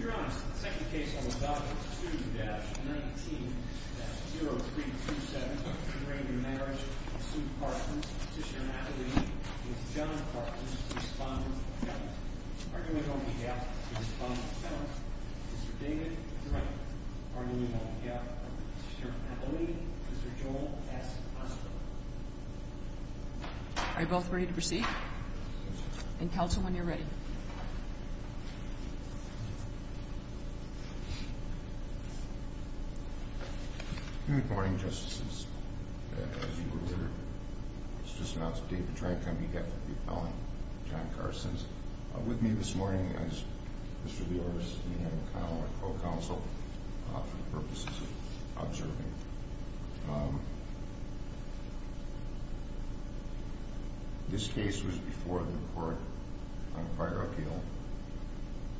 Your Honor, the second case on the docket is 2-19-0327 between the marriage of Sue Carstens, Petitioner Natalie and John Carstens, Respondent Kevin. Argument on behalf of the Respondent Kevin, Mr. David Drake. Argument on behalf of Petitioner Natalie, Mr. Joel S. Hurston. Are you both ready to proceed? Yes, Your Honor. And counsel, when you're ready. Thank you. Good morning, Justices. As you were aware, it's just announced that David Drake on behalf of the Appellant, John Carstens, is with me this morning. As Mr. Lewis, me and McConnell are co-counsel for the purposes of observing. This case was before the court on a prior appeal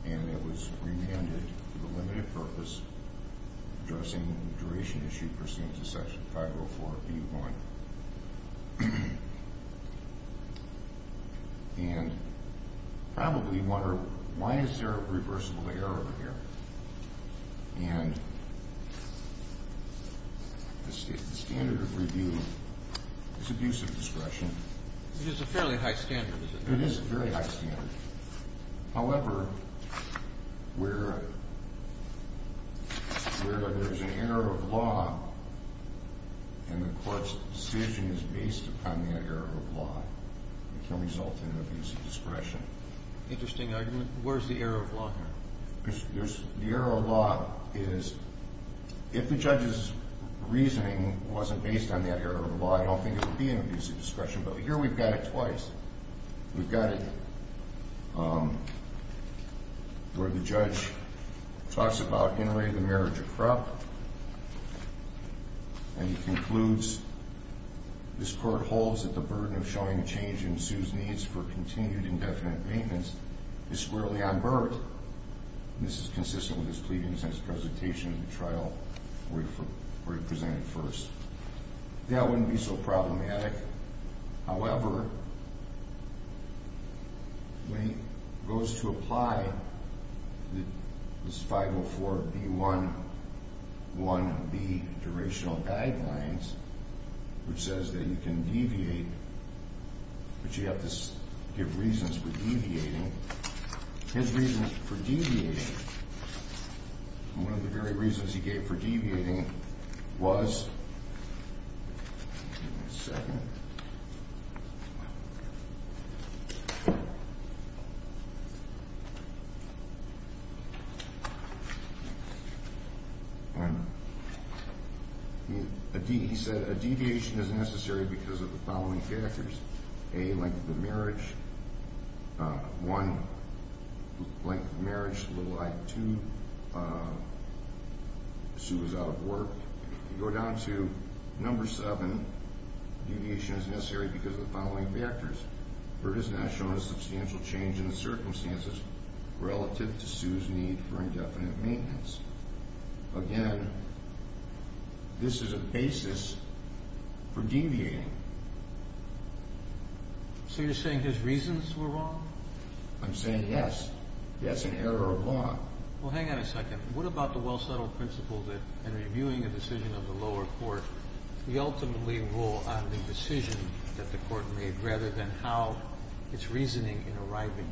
and it was remanded for the limited purpose of addressing a duration issue pursuant to Section 504 of the U of I. And you probably wonder, why is there a reversible error here? And the standard of review is abusive discretion. Which is a fairly high standard, isn't it? It is a very high standard. However, where there's an error of law and the court's decision is based upon the error of law, it can result in abusive discretion. Interesting argument. Where's the error of law here? The error of law is, if the judge's reasoning wasn't based on that error of law, I don't think it would be an abusive discretion. But here we've got it twice. We've got it where the judge talks about inter-related marriage of crop and he concludes, This court holds that the burden of showing change in Sue's needs for continued indefinite maintenance is squarely unburdened. And this is consistent with his pleadings in his presentation at the trial where he presented first. That wouldn't be so problematic. However, when he goes to apply this 504B11B Durational Guidelines, which says that you can deviate, but you have to give reasons for deviating. His reasons for deviating, one of the very reasons he gave for deviating was, Give me a second. He said a deviation is necessary because of the following factors. A, length of the marriage. One, length of the marriage is a little high. Two, Sue is out of work. If you go down to number seven, deviation is necessary because of the following factors. Burt has not shown a substantial change in the circumstances relative to Sue's need for indefinite maintenance. Again, this is a basis for deviating. So you're saying his reasons were wrong? I'm saying yes. That's an error of law. Well, hang on a second. What about the well-settled principle that in reviewing a decision of the lower court, we ultimately rule on the decision that the court made rather than how its reasoning in arriving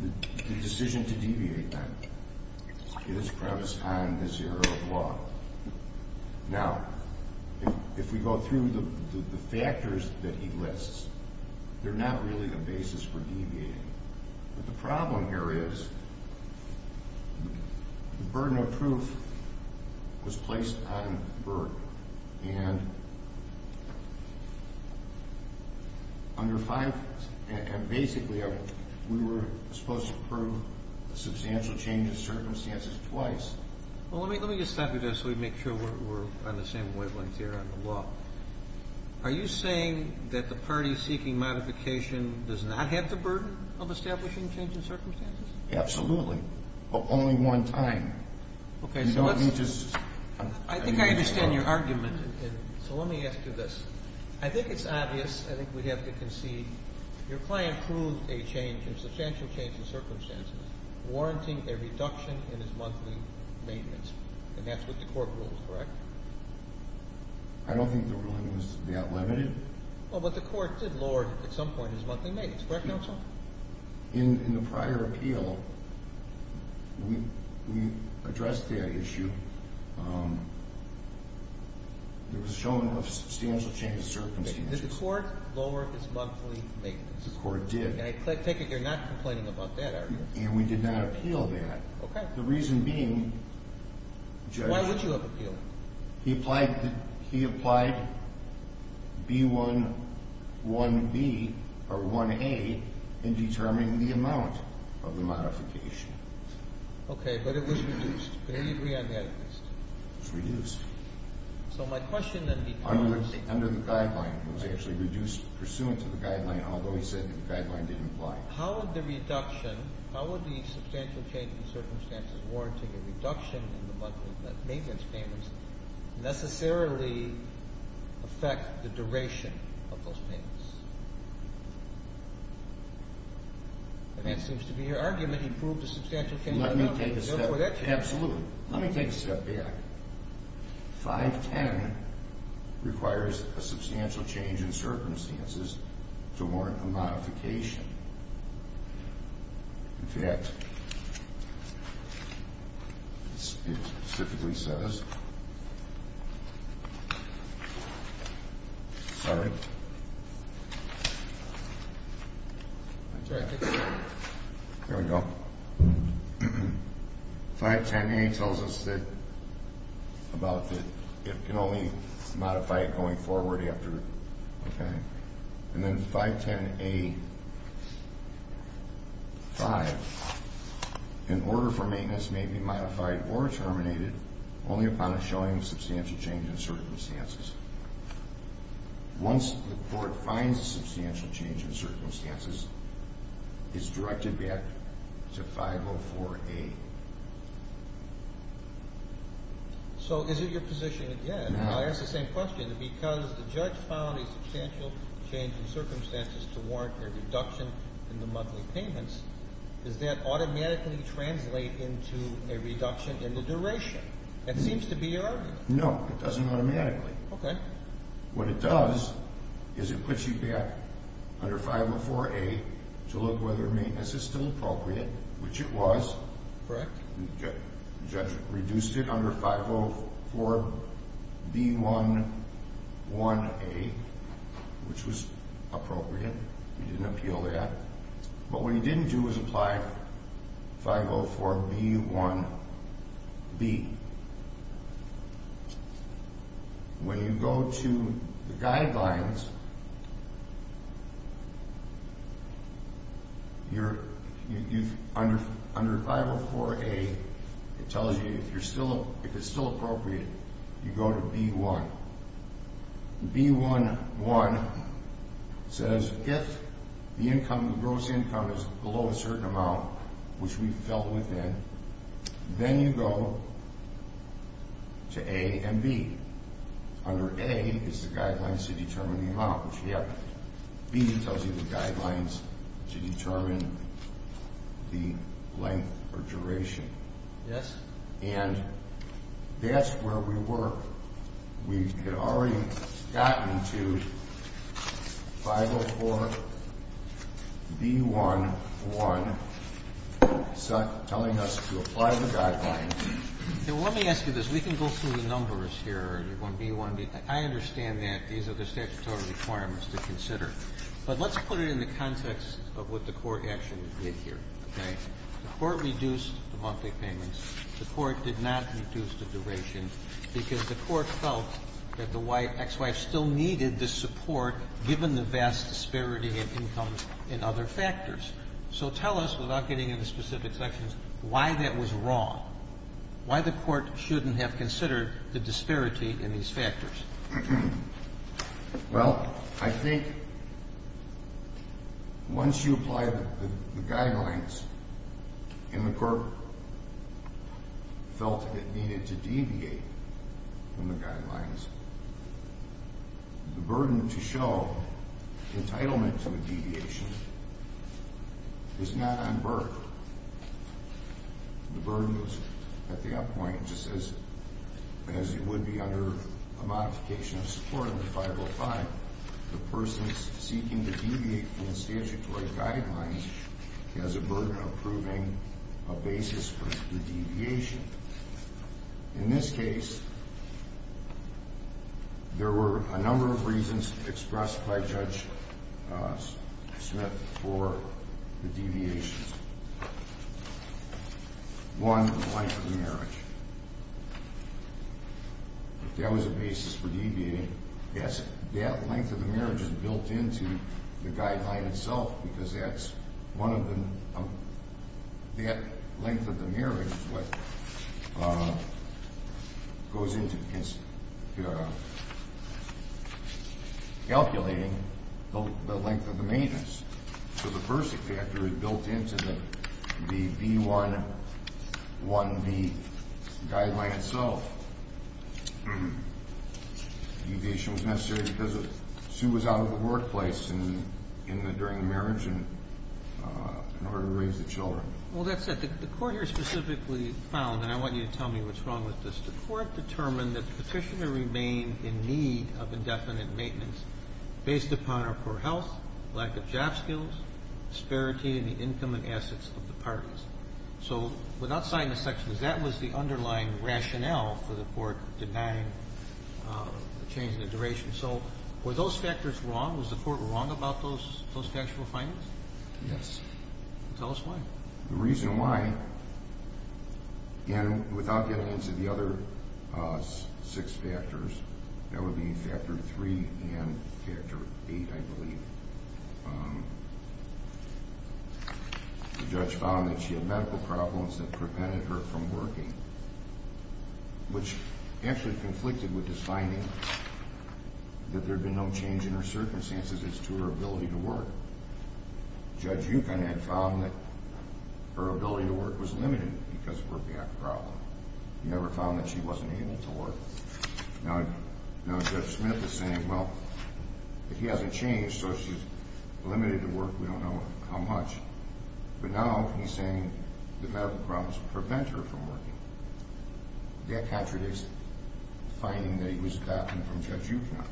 at that decision? The decision to deviate, then, is premised on this error of law. Now, if we go through the factors that he lists, they're not really the basis for deviating. But the problem here is the burden of proof was placed on Burt, and basically we were supposed to prove a substantial change in circumstances twice. Well, let me just stop you there so we make sure we're on the same wavelength here on the law. Are you saying that the party seeking modification does not have the burden of establishing change in circumstances? Absolutely. But only one time. Okay. You don't need to just ---- I think I understand your argument. So let me ask you this. I think it's obvious. I think we have to concede your client proved a change, a substantial change in circumstances, warranting a reduction in his monthly maintenance, and that's what the court ruled, correct? I don't think the ruling was that limited. Well, but the court did lower, at some point, his monthly maintenance, correct, counsel? In the prior appeal, we addressed that issue. It was shown a substantial change in circumstances. Did the court lower his monthly maintenance? The court did. I take it you're not complaining about that argument. And we did not appeal that. Okay. The reason being ---- Why would you have appealed? He applied B-1-1-B or 1-A in determining the amount of the modification. Okay. But it was reduced. Do you agree on that? It was reduced. So my question then becomes ---- Under the guideline. It was actually reduced pursuant to the guideline, although he said the guideline didn't apply. How would the reduction, how would the substantial change in circumstances warranting a reduction in the monthly maintenance payments necessarily affect the duration of those payments? And that seems to be your argument, he proved a substantial change in circumstances. Let me take a step back. Absolutely. Let me take a step back. 510 requires a substantial change in circumstances to warrant a modification. In fact, it specifically says ---- Sorry. There we go. 510A tells us that it can only modify it going forward after ---- Okay. And then 510A-5, an order for maintenance may be modified or terminated only upon a showing of substantial change in circumstances. Once the court finds a substantial change in circumstances, it's directed back to 504A. So is it your position again ---- No. I asked the same question. Because the judge found a substantial change in circumstances to warrant a reduction in the monthly payments, does that automatically translate into a reduction in the duration? That seems to be your argument. No. It doesn't automatically. Okay. What it does is it puts you back under 504A to look whether maintenance is still appropriate, which it was. Correct. The judge reduced it under 504B11A, which was appropriate. He didn't appeal that. But what he didn't do was apply 504B1B. When you go to the guidelines, under 504A, it tells you if it's still appropriate, you go to B1. B1.1 says if the gross income is below a certain amount, which we fell within, then you go to A and B. Under A, it's the guidelines to determine the amount. B tells you the guidelines to determine the length or duration. Yes. And that's where we were. We had already gotten to 504B1.1 telling us to apply the guidelines. Now, let me ask you this. We can go through the numbers here. You're going B1. I understand that. These are the statutory requirements to consider. But let's put it in the context of what the court actually did here, okay? The court reduced the monthly payments. The court did not reduce the duration because the court felt that the wife, ex-wife, still needed the support given the vast disparity in incomes and other factors. So tell us, without getting into specific sections, why that was wrong, why the court shouldn't have considered the disparity in these factors. Well, I think once you apply the guidelines and the court felt it needed to deviate from the guidelines, the burden to show entitlement to a deviation is not unburdened. The burden was, at that point, just as it would be under a modification of support under 505, the person seeking to deviate from the statutory guidelines has a burden of proving a basis for the deviation. In this case, there were a number of reasons expressed by Judge Smith for the deviations. One, the length of the marriage. If that was a basis for deviating, that length of the marriage is built into the guideline itself because that length of the marriage is what goes into calculating the length of the maintenance. So the first factor is built into the B-1-1-B guideline itself. Deviation was necessary because Sue was out of the workplace during the marriage in order to raise the children. Well, that's it. The court here specifically found, and I want you to tell me what's wrong with this, the court determined that the petitioner remained in need of indefinite maintenance based upon her poor health, lack of job skills, disparity in the income and assets of the parties. So without signing the section, that was the underlying rationale for the court denying the change in the duration. So were those factors wrong? Was the court wrong about those factual findings? Yes. Tell us why. The reason why, and without getting into the other six factors, that would be factor three and factor eight, I believe. The judge found that she had medical problems that prevented her from working, which actually conflicted with this finding that there had been no change in her circumstances as to her ability to work. Judge Yukon had found that her ability to work was limited because of her back problem. He never found that she wasn't able to work. Now Judge Smith is saying, well, he hasn't changed, so she's limited to work, we don't know how much. But now he's saying the medical problems prevent her from working. That contradicts the finding that it was gotten from Judge Yukon.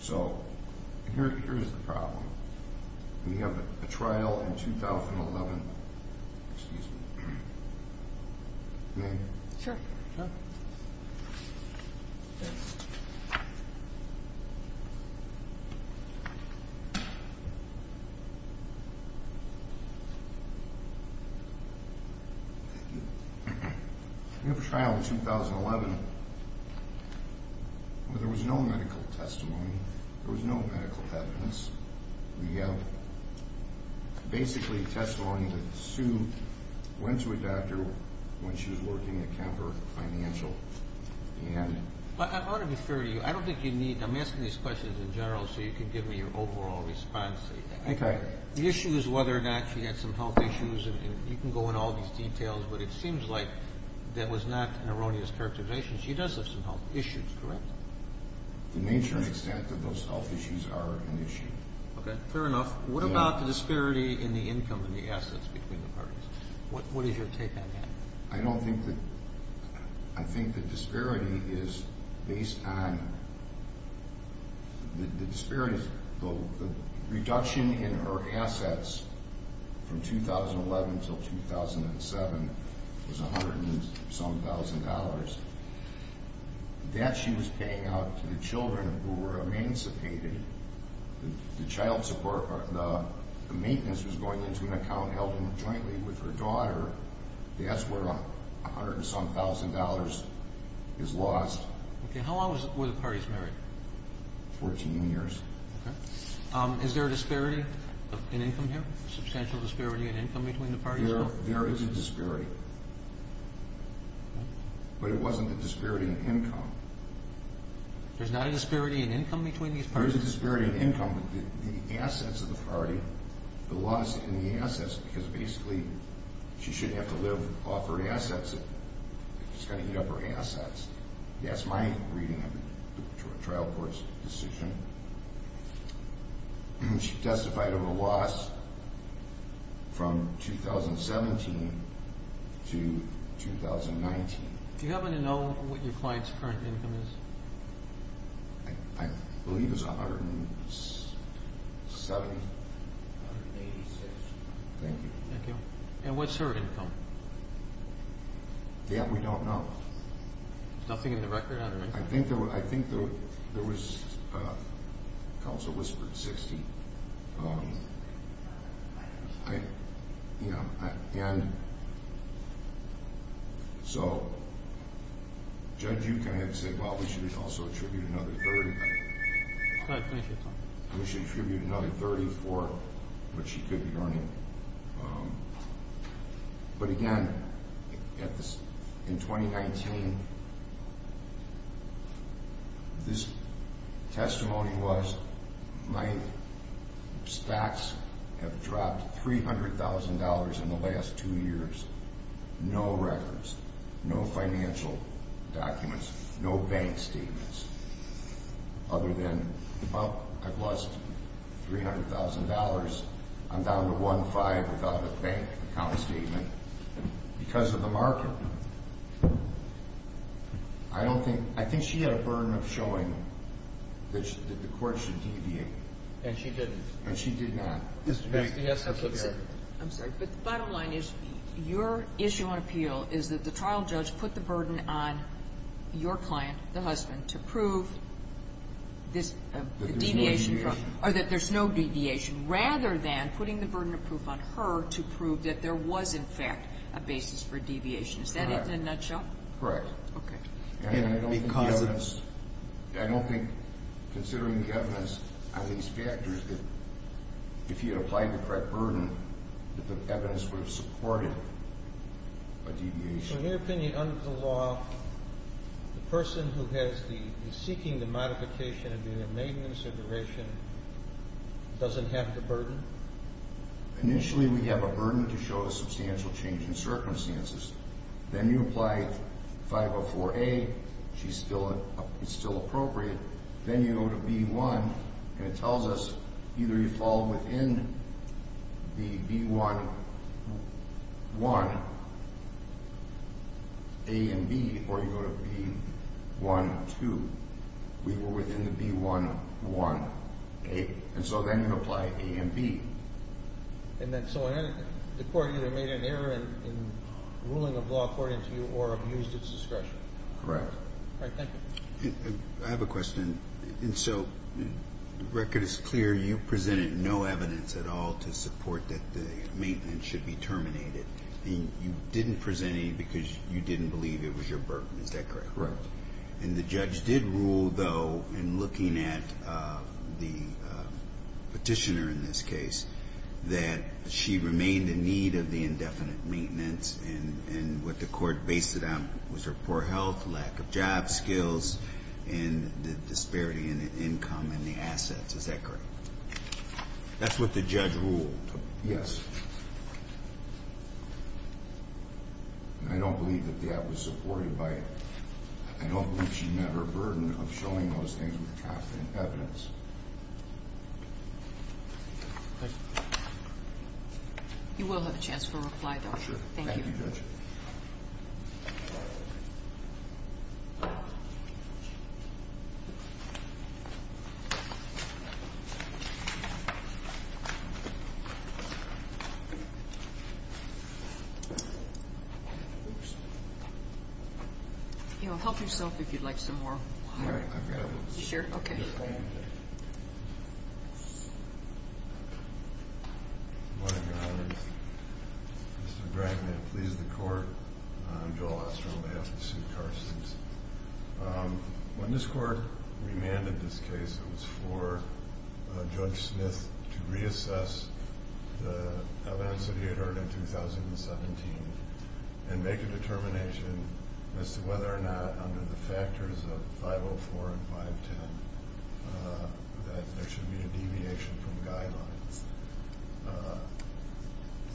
So here's the problem. We have a trial in 2011. Excuse me. May I? Sure. Thanks. We have a trial in 2011 where there was no medical testimony. There was no medical evidence. We have basically testimony that Sue went to a doctor when she was working at Kemper Financial. I want to be fair to you. I don't think you need to. I'm asking these questions in general so you can give me your overall response. Okay. The issue is whether or not she had some health issues, and you can go into all these details, but it seems like that was not an erroneous characterization. She does have some health issues, correct? To the nature and extent that those health issues are an issue. Okay. Fair enough. What about the disparity in the income and the assets between the parties? What is your take on that? I don't think that the disparity is based on the disparities. The reduction in her assets from 2011 until 2007 was a hundred and some thousand dollars. That she was paying out to the children who were emancipated. The maintenance was going into an account held jointly with her daughter. That's where a hundred and some thousand dollars is lost. Okay. How long were the parties married? Fourteen years. Okay. Is there a disparity in income here, a substantial disparity in income between the parties? There is a disparity. But it wasn't the disparity in income. There's not a disparity in income between these parties? There is a disparity in income. The assets of the party, the loss in the assets, because basically she shouldn't have to live off her assets. She's got to eat up her assets. That's my reading of the trial court's decision. She testified of a loss from 2017 to 2019. Do you happen to know what your client's current income is? I believe it's $170,000. $186,000. Thank you. Thank you. And what's her income? Yeah, we don't know. Nothing in the record on her income? I think there was counsel whispered $60,000. And so, Judge, you kind of said, well, we should also attribute another $30,000. We should attribute another $30,000 for what she could be earning. But, again, in 2019, this testimony was my stocks have dropped $300,000 in the last two years. No records. No financial documents. No bank statements other than, well, I've lost $300,000. I'm down to one-five without a bank account statement because of the market. I don't think – I think she had a burden of showing that the court should deviate. And she didn't. And she did not. Mr. Bates, do you have something to add? I'm sorry. But the bottom line is your issue on appeal is that the trial judge put the burden on your client, the husband, to prove this deviation from – or that there's no deviation, rather than putting the burden of proof on her to prove that there was, in fact, a basis for deviation. Is that it in a nutshell? Correct. Okay. And because of – I don't think considering the evidence on these factors that if you had applied the correct burden, that the evidence would have supported a deviation. In your opinion, under the law, the person who has the – is seeking the modification of the remaining consideration doesn't have the burden? Initially, we have a burden to show a substantial change in circumstances. Then you apply 504A. She's still – it's still appropriate. Then you go to B-1, and it tells us either you fall within the B-1-1, A and B, or you go to B-1-2. We were within the B-1-1, A. And so then you apply A and B. And then so the court either made an error in ruling a law according to you or abused its discretion. Correct. All right, thank you. I have a question. And so the record is clear. You presented no evidence at all to support that the maintenance should be terminated. And you didn't present any because you didn't believe it was your burden. Is that correct? Correct. And the judge did rule, though, in looking at the Petitioner in this case, that she remained in need of the indefinite maintenance. And what the court based it on was her poor health, lack of job skills, and the disparity in income and the assets. Is that correct? That's what the judge ruled. Yes. And I don't believe that the act was supported by it. I don't believe she met her burden of showing those things with constant evidence. You will have a chance for a reply, though. Oh, sure. Thank you, Judge. Help yourself if you'd like some more water. All right, I've got it. You sure? Okay. Good morning, Your Honor. Mr. Bragg, may it please the Court. I'm Joel Oster on behalf of Sue Carstens. When this Court remanded this case, it was for Judge Smith to reassess the evidence that he had heard in 2017 and make a determination as to whether or not, under the factors of 504 and 510, that there should be a deviation from guidelines.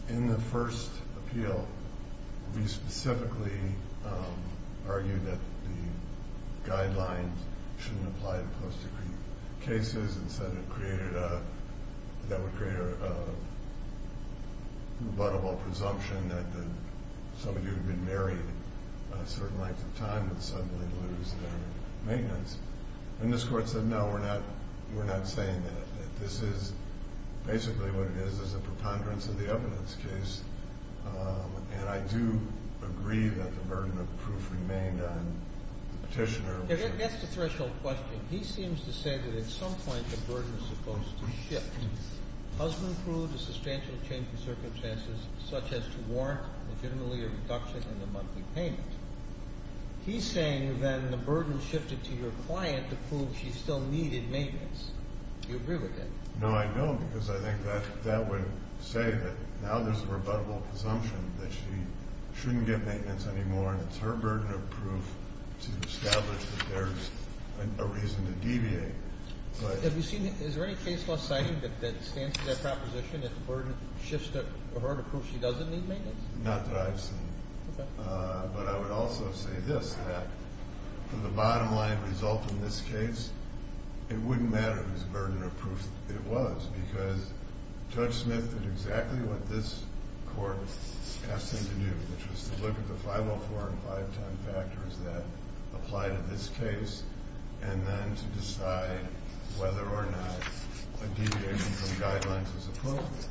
In the first appeal, we specifically argued that the guidelines shouldn't apply to post-decree cases that would create a rebuttable presumption that somebody who had been married a certain length of time would suddenly lose their maintenance. And this Court said, no, we're not saying that. This is basically what it is, is a preponderance of the evidence case. And I do agree that the burden of proof remained on the petitioner. That's the threshold question. He seems to say that at some point the burden is supposed to shift. Husband proved a substantial change in circumstances, such as to warrant legitimately a reduction in the monthly payment. He's saying then the burden shifted to your client to prove she still needed maintenance. Do you agree with that? No, I don't, because I think that would say that now there's a rebuttable presumption that she shouldn't get maintenance anymore, and it's her burden of proof to establish that there's a reason to deviate. Have you seen, is there any case law citing that stands to that proposition that the burden shifts to her to prove she doesn't need maintenance? Not that I've seen. Okay. But I would also say this, that the bottom line result in this case, it wouldn't matter whose burden of proof it was, because Judge Smith did exactly what this Court asked him to do, which was to look at the 504 and 510 factors that apply to this case and then to decide whether or not a deviation from the guidelines was appropriate.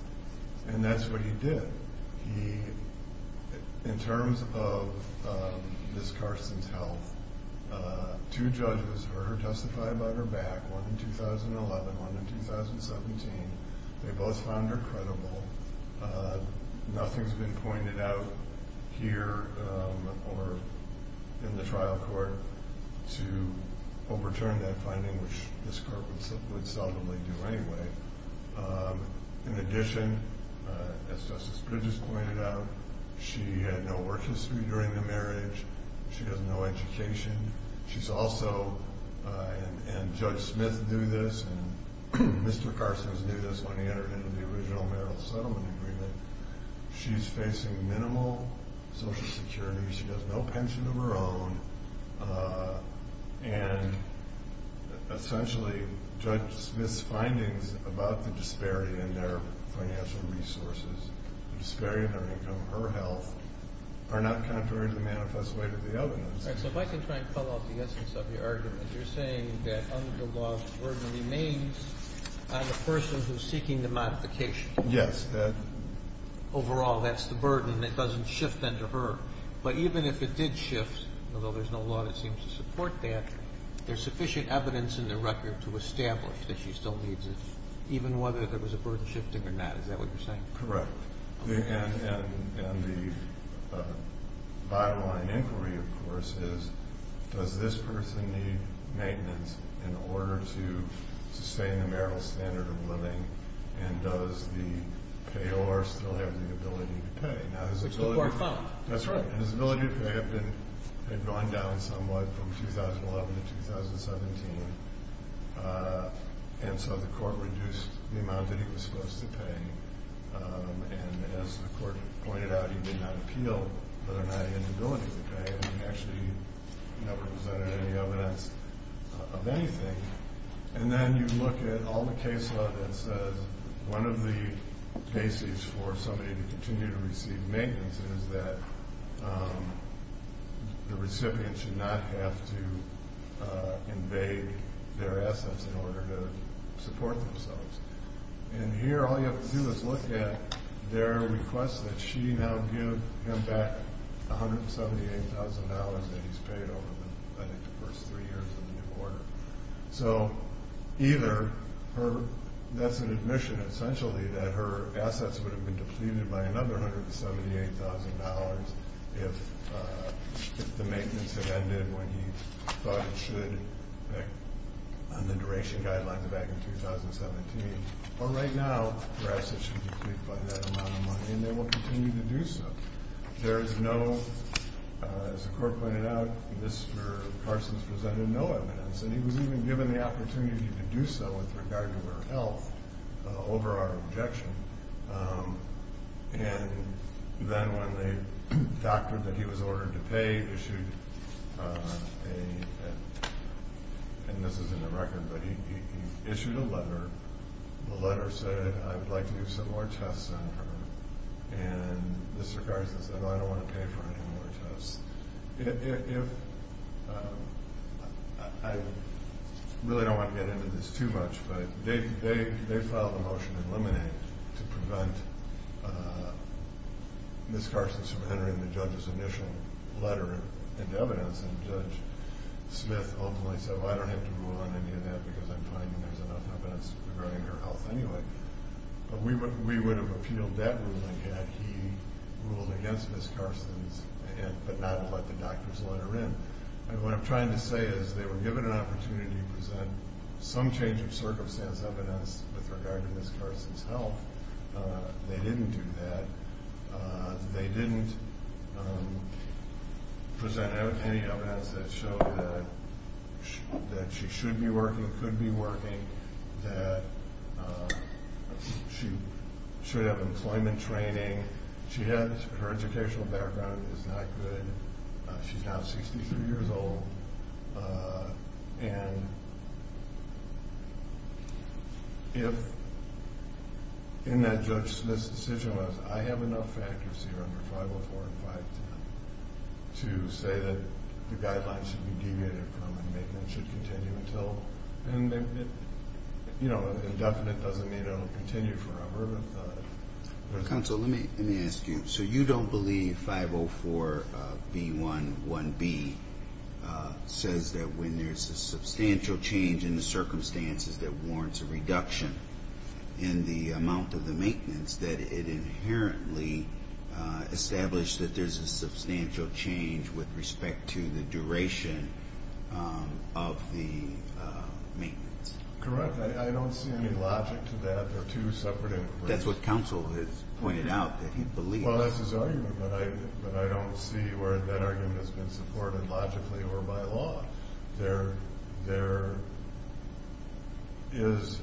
And that's what he did. In terms of Ms. Carson's health, two judges heard her testify about her back, one in 2011, one in 2017. They both found her credible. Nothing's been pointed out here or in the trial court to overturn that finding, which this Court would seldomly do anyway. In addition, as Justice Bridges pointed out, she had no work history during the marriage. She has no education. She's also, and Judge Smith knew this, and Mr. Carson knew this when he entered into the original marital settlement agreement, she's facing minimal Social Security. She has no pension of her own. And essentially, Judge Smith's findings about the disparity in their financial resources, the disparity in their income, her health, are not contrary to the manifest way to the evidence. All right, so if I can try and follow up the essence of your argument. You're saying that under the law, the burden remains on the person who's seeking the modification. Yes. Overall, that's the burden. It doesn't shift then to her. But even if it did shift, although there's no law that seems to support that, there's sufficient evidence in the record to establish that she still needs it, even whether there was a burden shifting or not. Is that what you're saying? Correct. And the bottom line inquiry, of course, is does this person need maintenance in order to sustain the marital standard of living, and does the payor still have the ability to pay? Which the court found. That's right. And his ability to pay had gone down somewhat from 2011 to 2017, and so the court reduced the amount that he was supposed to pay. And as the court pointed out, he did not appeal whether or not he had the ability to pay, and he actually never presented any evidence of anything. And then you look at all the case law that says one of the basis for somebody to continue to receive maintenance is that the recipient should not have to invade their assets in order to support themselves. And here all you have to do is look at their request that she now give him back $178,000 that he's paid over, I think, the first three years of the new order. So either that's an admission essentially that her assets would have been depleted by another $178,000 if the maintenance had ended when he thought it should on the duration guidelines back in 2017. But right now her assets should be depleted by that amount of money, and they will continue to do so. There is no, as the court pointed out, Mr. Parsons presented no evidence. And he was even given the opportunity to do so with regard to her health over our objection. And then when they doctored that he was ordered to pay, issued a, and this is in the record, but he issued a letter. The letter said, I would like to do some more tests on her. And Mr. Parsons said, no, I don't want to pay for any more tests. I really don't want to get into this too much, but they filed a motion in Lemonade to prevent Ms. Carson from entering the judge's initial letter of evidence. And Judge Smith openly said, well, I don't have to rule on any of that because I'm finding there's enough evidence regarding her health anyway. But we would have appealed that ruling had he ruled against Ms. Carson's, but not let the doctor's letter in. And what I'm trying to say is they were given an opportunity to present some change of circumstance evidence with regard to Ms. Carson's health. They didn't do that. They didn't present any evidence that showed that she should be working, could be working, that she should have employment training. Her educational background is not good. She's now 63 years old. And if in that Judge Smith's decision was, I have enough factors here under 504 and 510 to say that the guidelines should be deviated from and make them should continue until. And, you know, indefinite doesn't mean it will continue forever. Counsel, let me ask you. So you don't believe 504B11B says that when there's a substantial change in the circumstances that warrants a reduction in the amount of the maintenance, that it inherently established that there's a substantial change with respect to the duration of the maintenance? Correct. I don't see any logic to that. That's what counsel has pointed out, that he believes. Well, that's his argument, but I don't see where that argument has been supported logically or by law. There is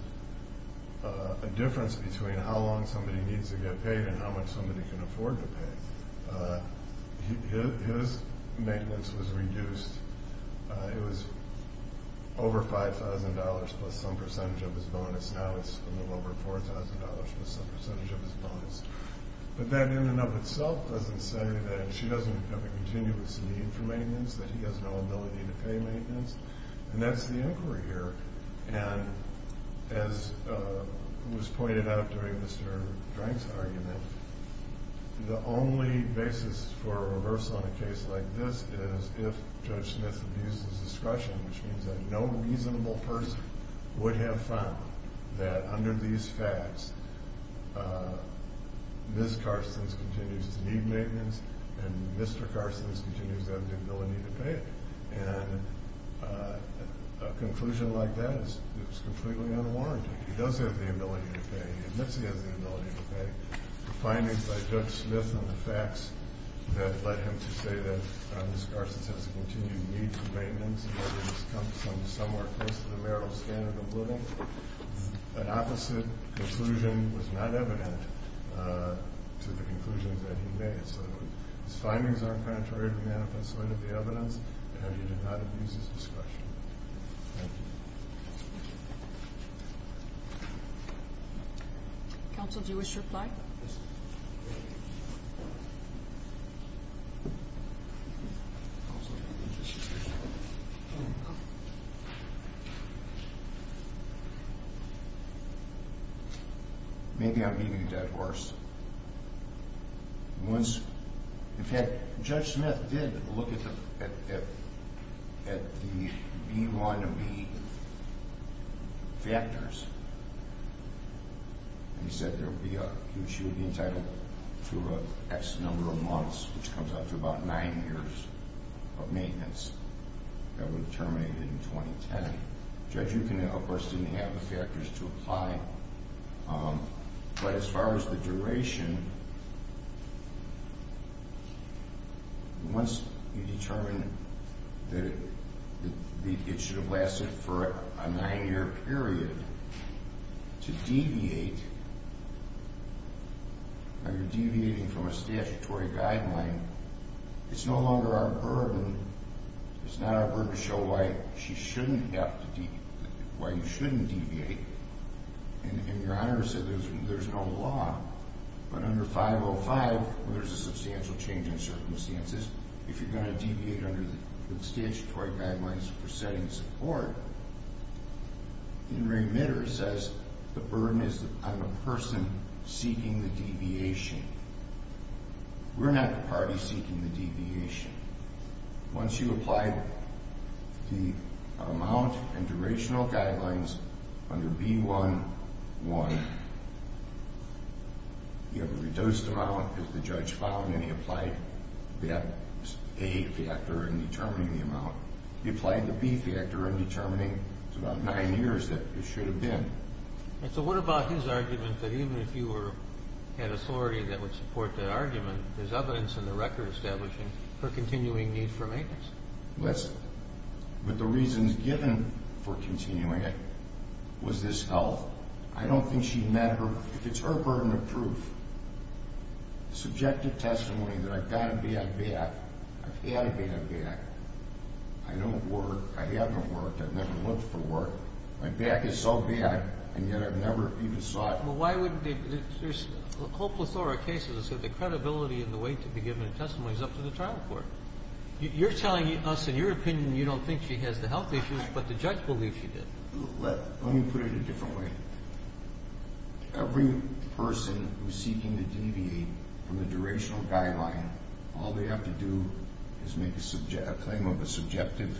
a difference between how long somebody needs to get paid and how much somebody can afford to pay. His maintenance was reduced. It was over $5,000 plus some percentage of his bonus. Now it's a little over $4,000 plus some percentage of his bonus. But that in and of itself doesn't say that she doesn't have a continuous need for maintenance, that he has no ability to pay maintenance. And that's the inquiry here. And as was pointed out during Mr. Drank's argument, the only basis for a reversal in a case like this is if Judge Smith abuses discretion, which means that no reasonable person would have found that under these facts, Ms. Carstens continues to need maintenance and Mr. Carstens continues to have the ability to pay it. And a conclusion like that is completely unwarranted. He does have the ability to pay. He admits he has the ability to pay. The findings by Judge Smith and the facts that led him to say that Ms. Carstens has a continued need for maintenance and that there is somewhere close to the marital standard of living, an opposite conclusion was not evident to the conclusions that he made. So his findings are contrary to the manifest light of the evidence, and he did not abuse his discretion. Thank you. Counsel, do you wish to reply? Yes, ma'am. Counsel, do you wish to reply? No. Maybe I'm being dead worse. Once, in fact, Judge Smith did look at the B1 and B factors. He said there would be a, she would be entitled to an X number of months, which comes out to about nine years of maintenance. That would terminate in 2010. Judge Ukin, of course, didn't have the factors to apply. But as far as the duration, once you determine that it should have lasted for a nine-year period, to deviate, are you deviating from a statutory guideline? It's no longer our burden. It's not our burden to show why she shouldn't have to, why you shouldn't deviate. And Your Honor said there's no law. But under 505, there's a substantial change in circumstances. If you're going to deviate under the statutory guidelines for setting support, Henry Mitter says the burden is on the person seeking the deviation. We're not the party seeking the deviation. Once you apply the amount and durational guidelines under B1-1, you have a reduced amount, as the judge found, and he applied that A factor in determining the amount. He applied the B factor in determining it's about nine years that it should have been. So what about his argument that even if you had authority that would support that argument, there's evidence in the record establishing her continuing need for maintenance? But the reasons given for continuing it was this health. I don't think she met her, if it's her burden of proof, subjective testimony that I've got a bad back, I've had a bad back, I don't work, I haven't worked, I've never looked for work, my back is so bad, and yet I've never even saw it. There's a whole plethora of cases where the credibility and the way to be given a testimony is up to the trial court. You're telling us, in your opinion, you don't think she has the health issues, but the judge believes she did. Let me put it a different way. Every person who's seeking to deviate from the durational guideline, all they have to do is make a claim of a subjective,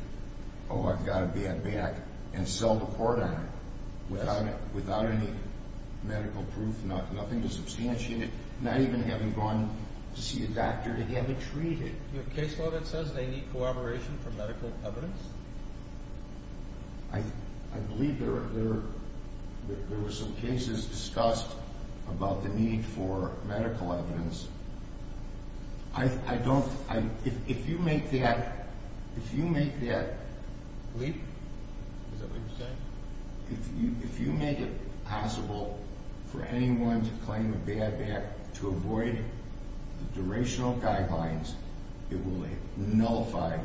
oh, I've got a bad back, and sell the court on it without any medical proof, nothing to substantiate it, not even having gone to see a doctor to have it treated. Your case law that says they need corroboration for medical evidence? I believe there were some cases discussed about the need for medical evidence. If you make that leap, if you make it possible for anyone to claim a bad back to avoid the durational guidelines, it will nullify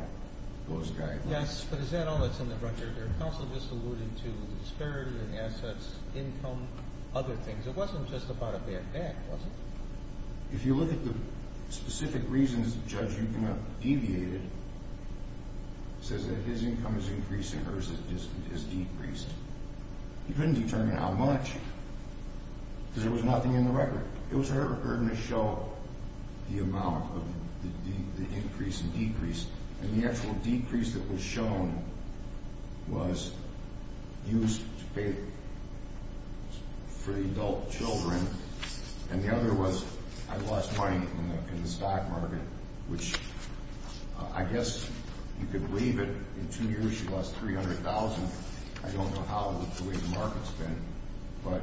those guidelines. Yes, but is that all that's in the record? Your counsel just alluded to the disparity in assets, income, other things. It wasn't just about a bad back, was it? If you look at the specific reasons the judge you cannot deviate it, it says that his income has increased and hers has decreased. You couldn't determine how much because there was nothing in the record. It was her burden to show the amount of the increase and decrease, and the actual decrease that was shown was used to pay for the adult children, and the other was I lost money in the stock market, which I guess you could believe it. In two years, she lost $300,000. I don't know how the way the market's been, but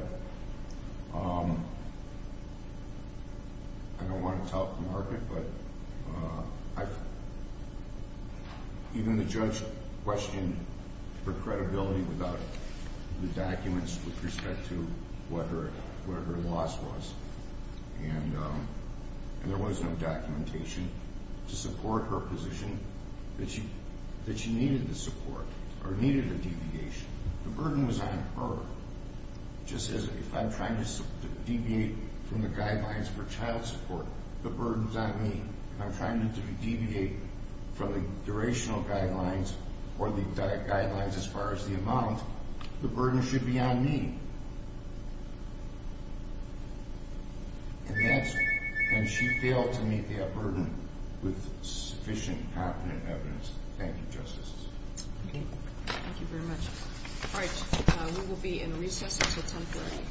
I don't want to tell the market, but even the judge questioned her credibility without the documents with respect to what her loss was, and there was no documentation to support her position that she needed the support or needed a deviation. The burden was on her, just as if I'm trying to deviate from the guidelines for child support, the burden's on me, and I'm trying to deviate from the durational guidelines or the guidelines as far as the amount. The burden should be on me, and she failed to meet that burden with sufficient, confident evidence. Thank you, Justices. Thank you very much. All right, we will be in recess until 10.30.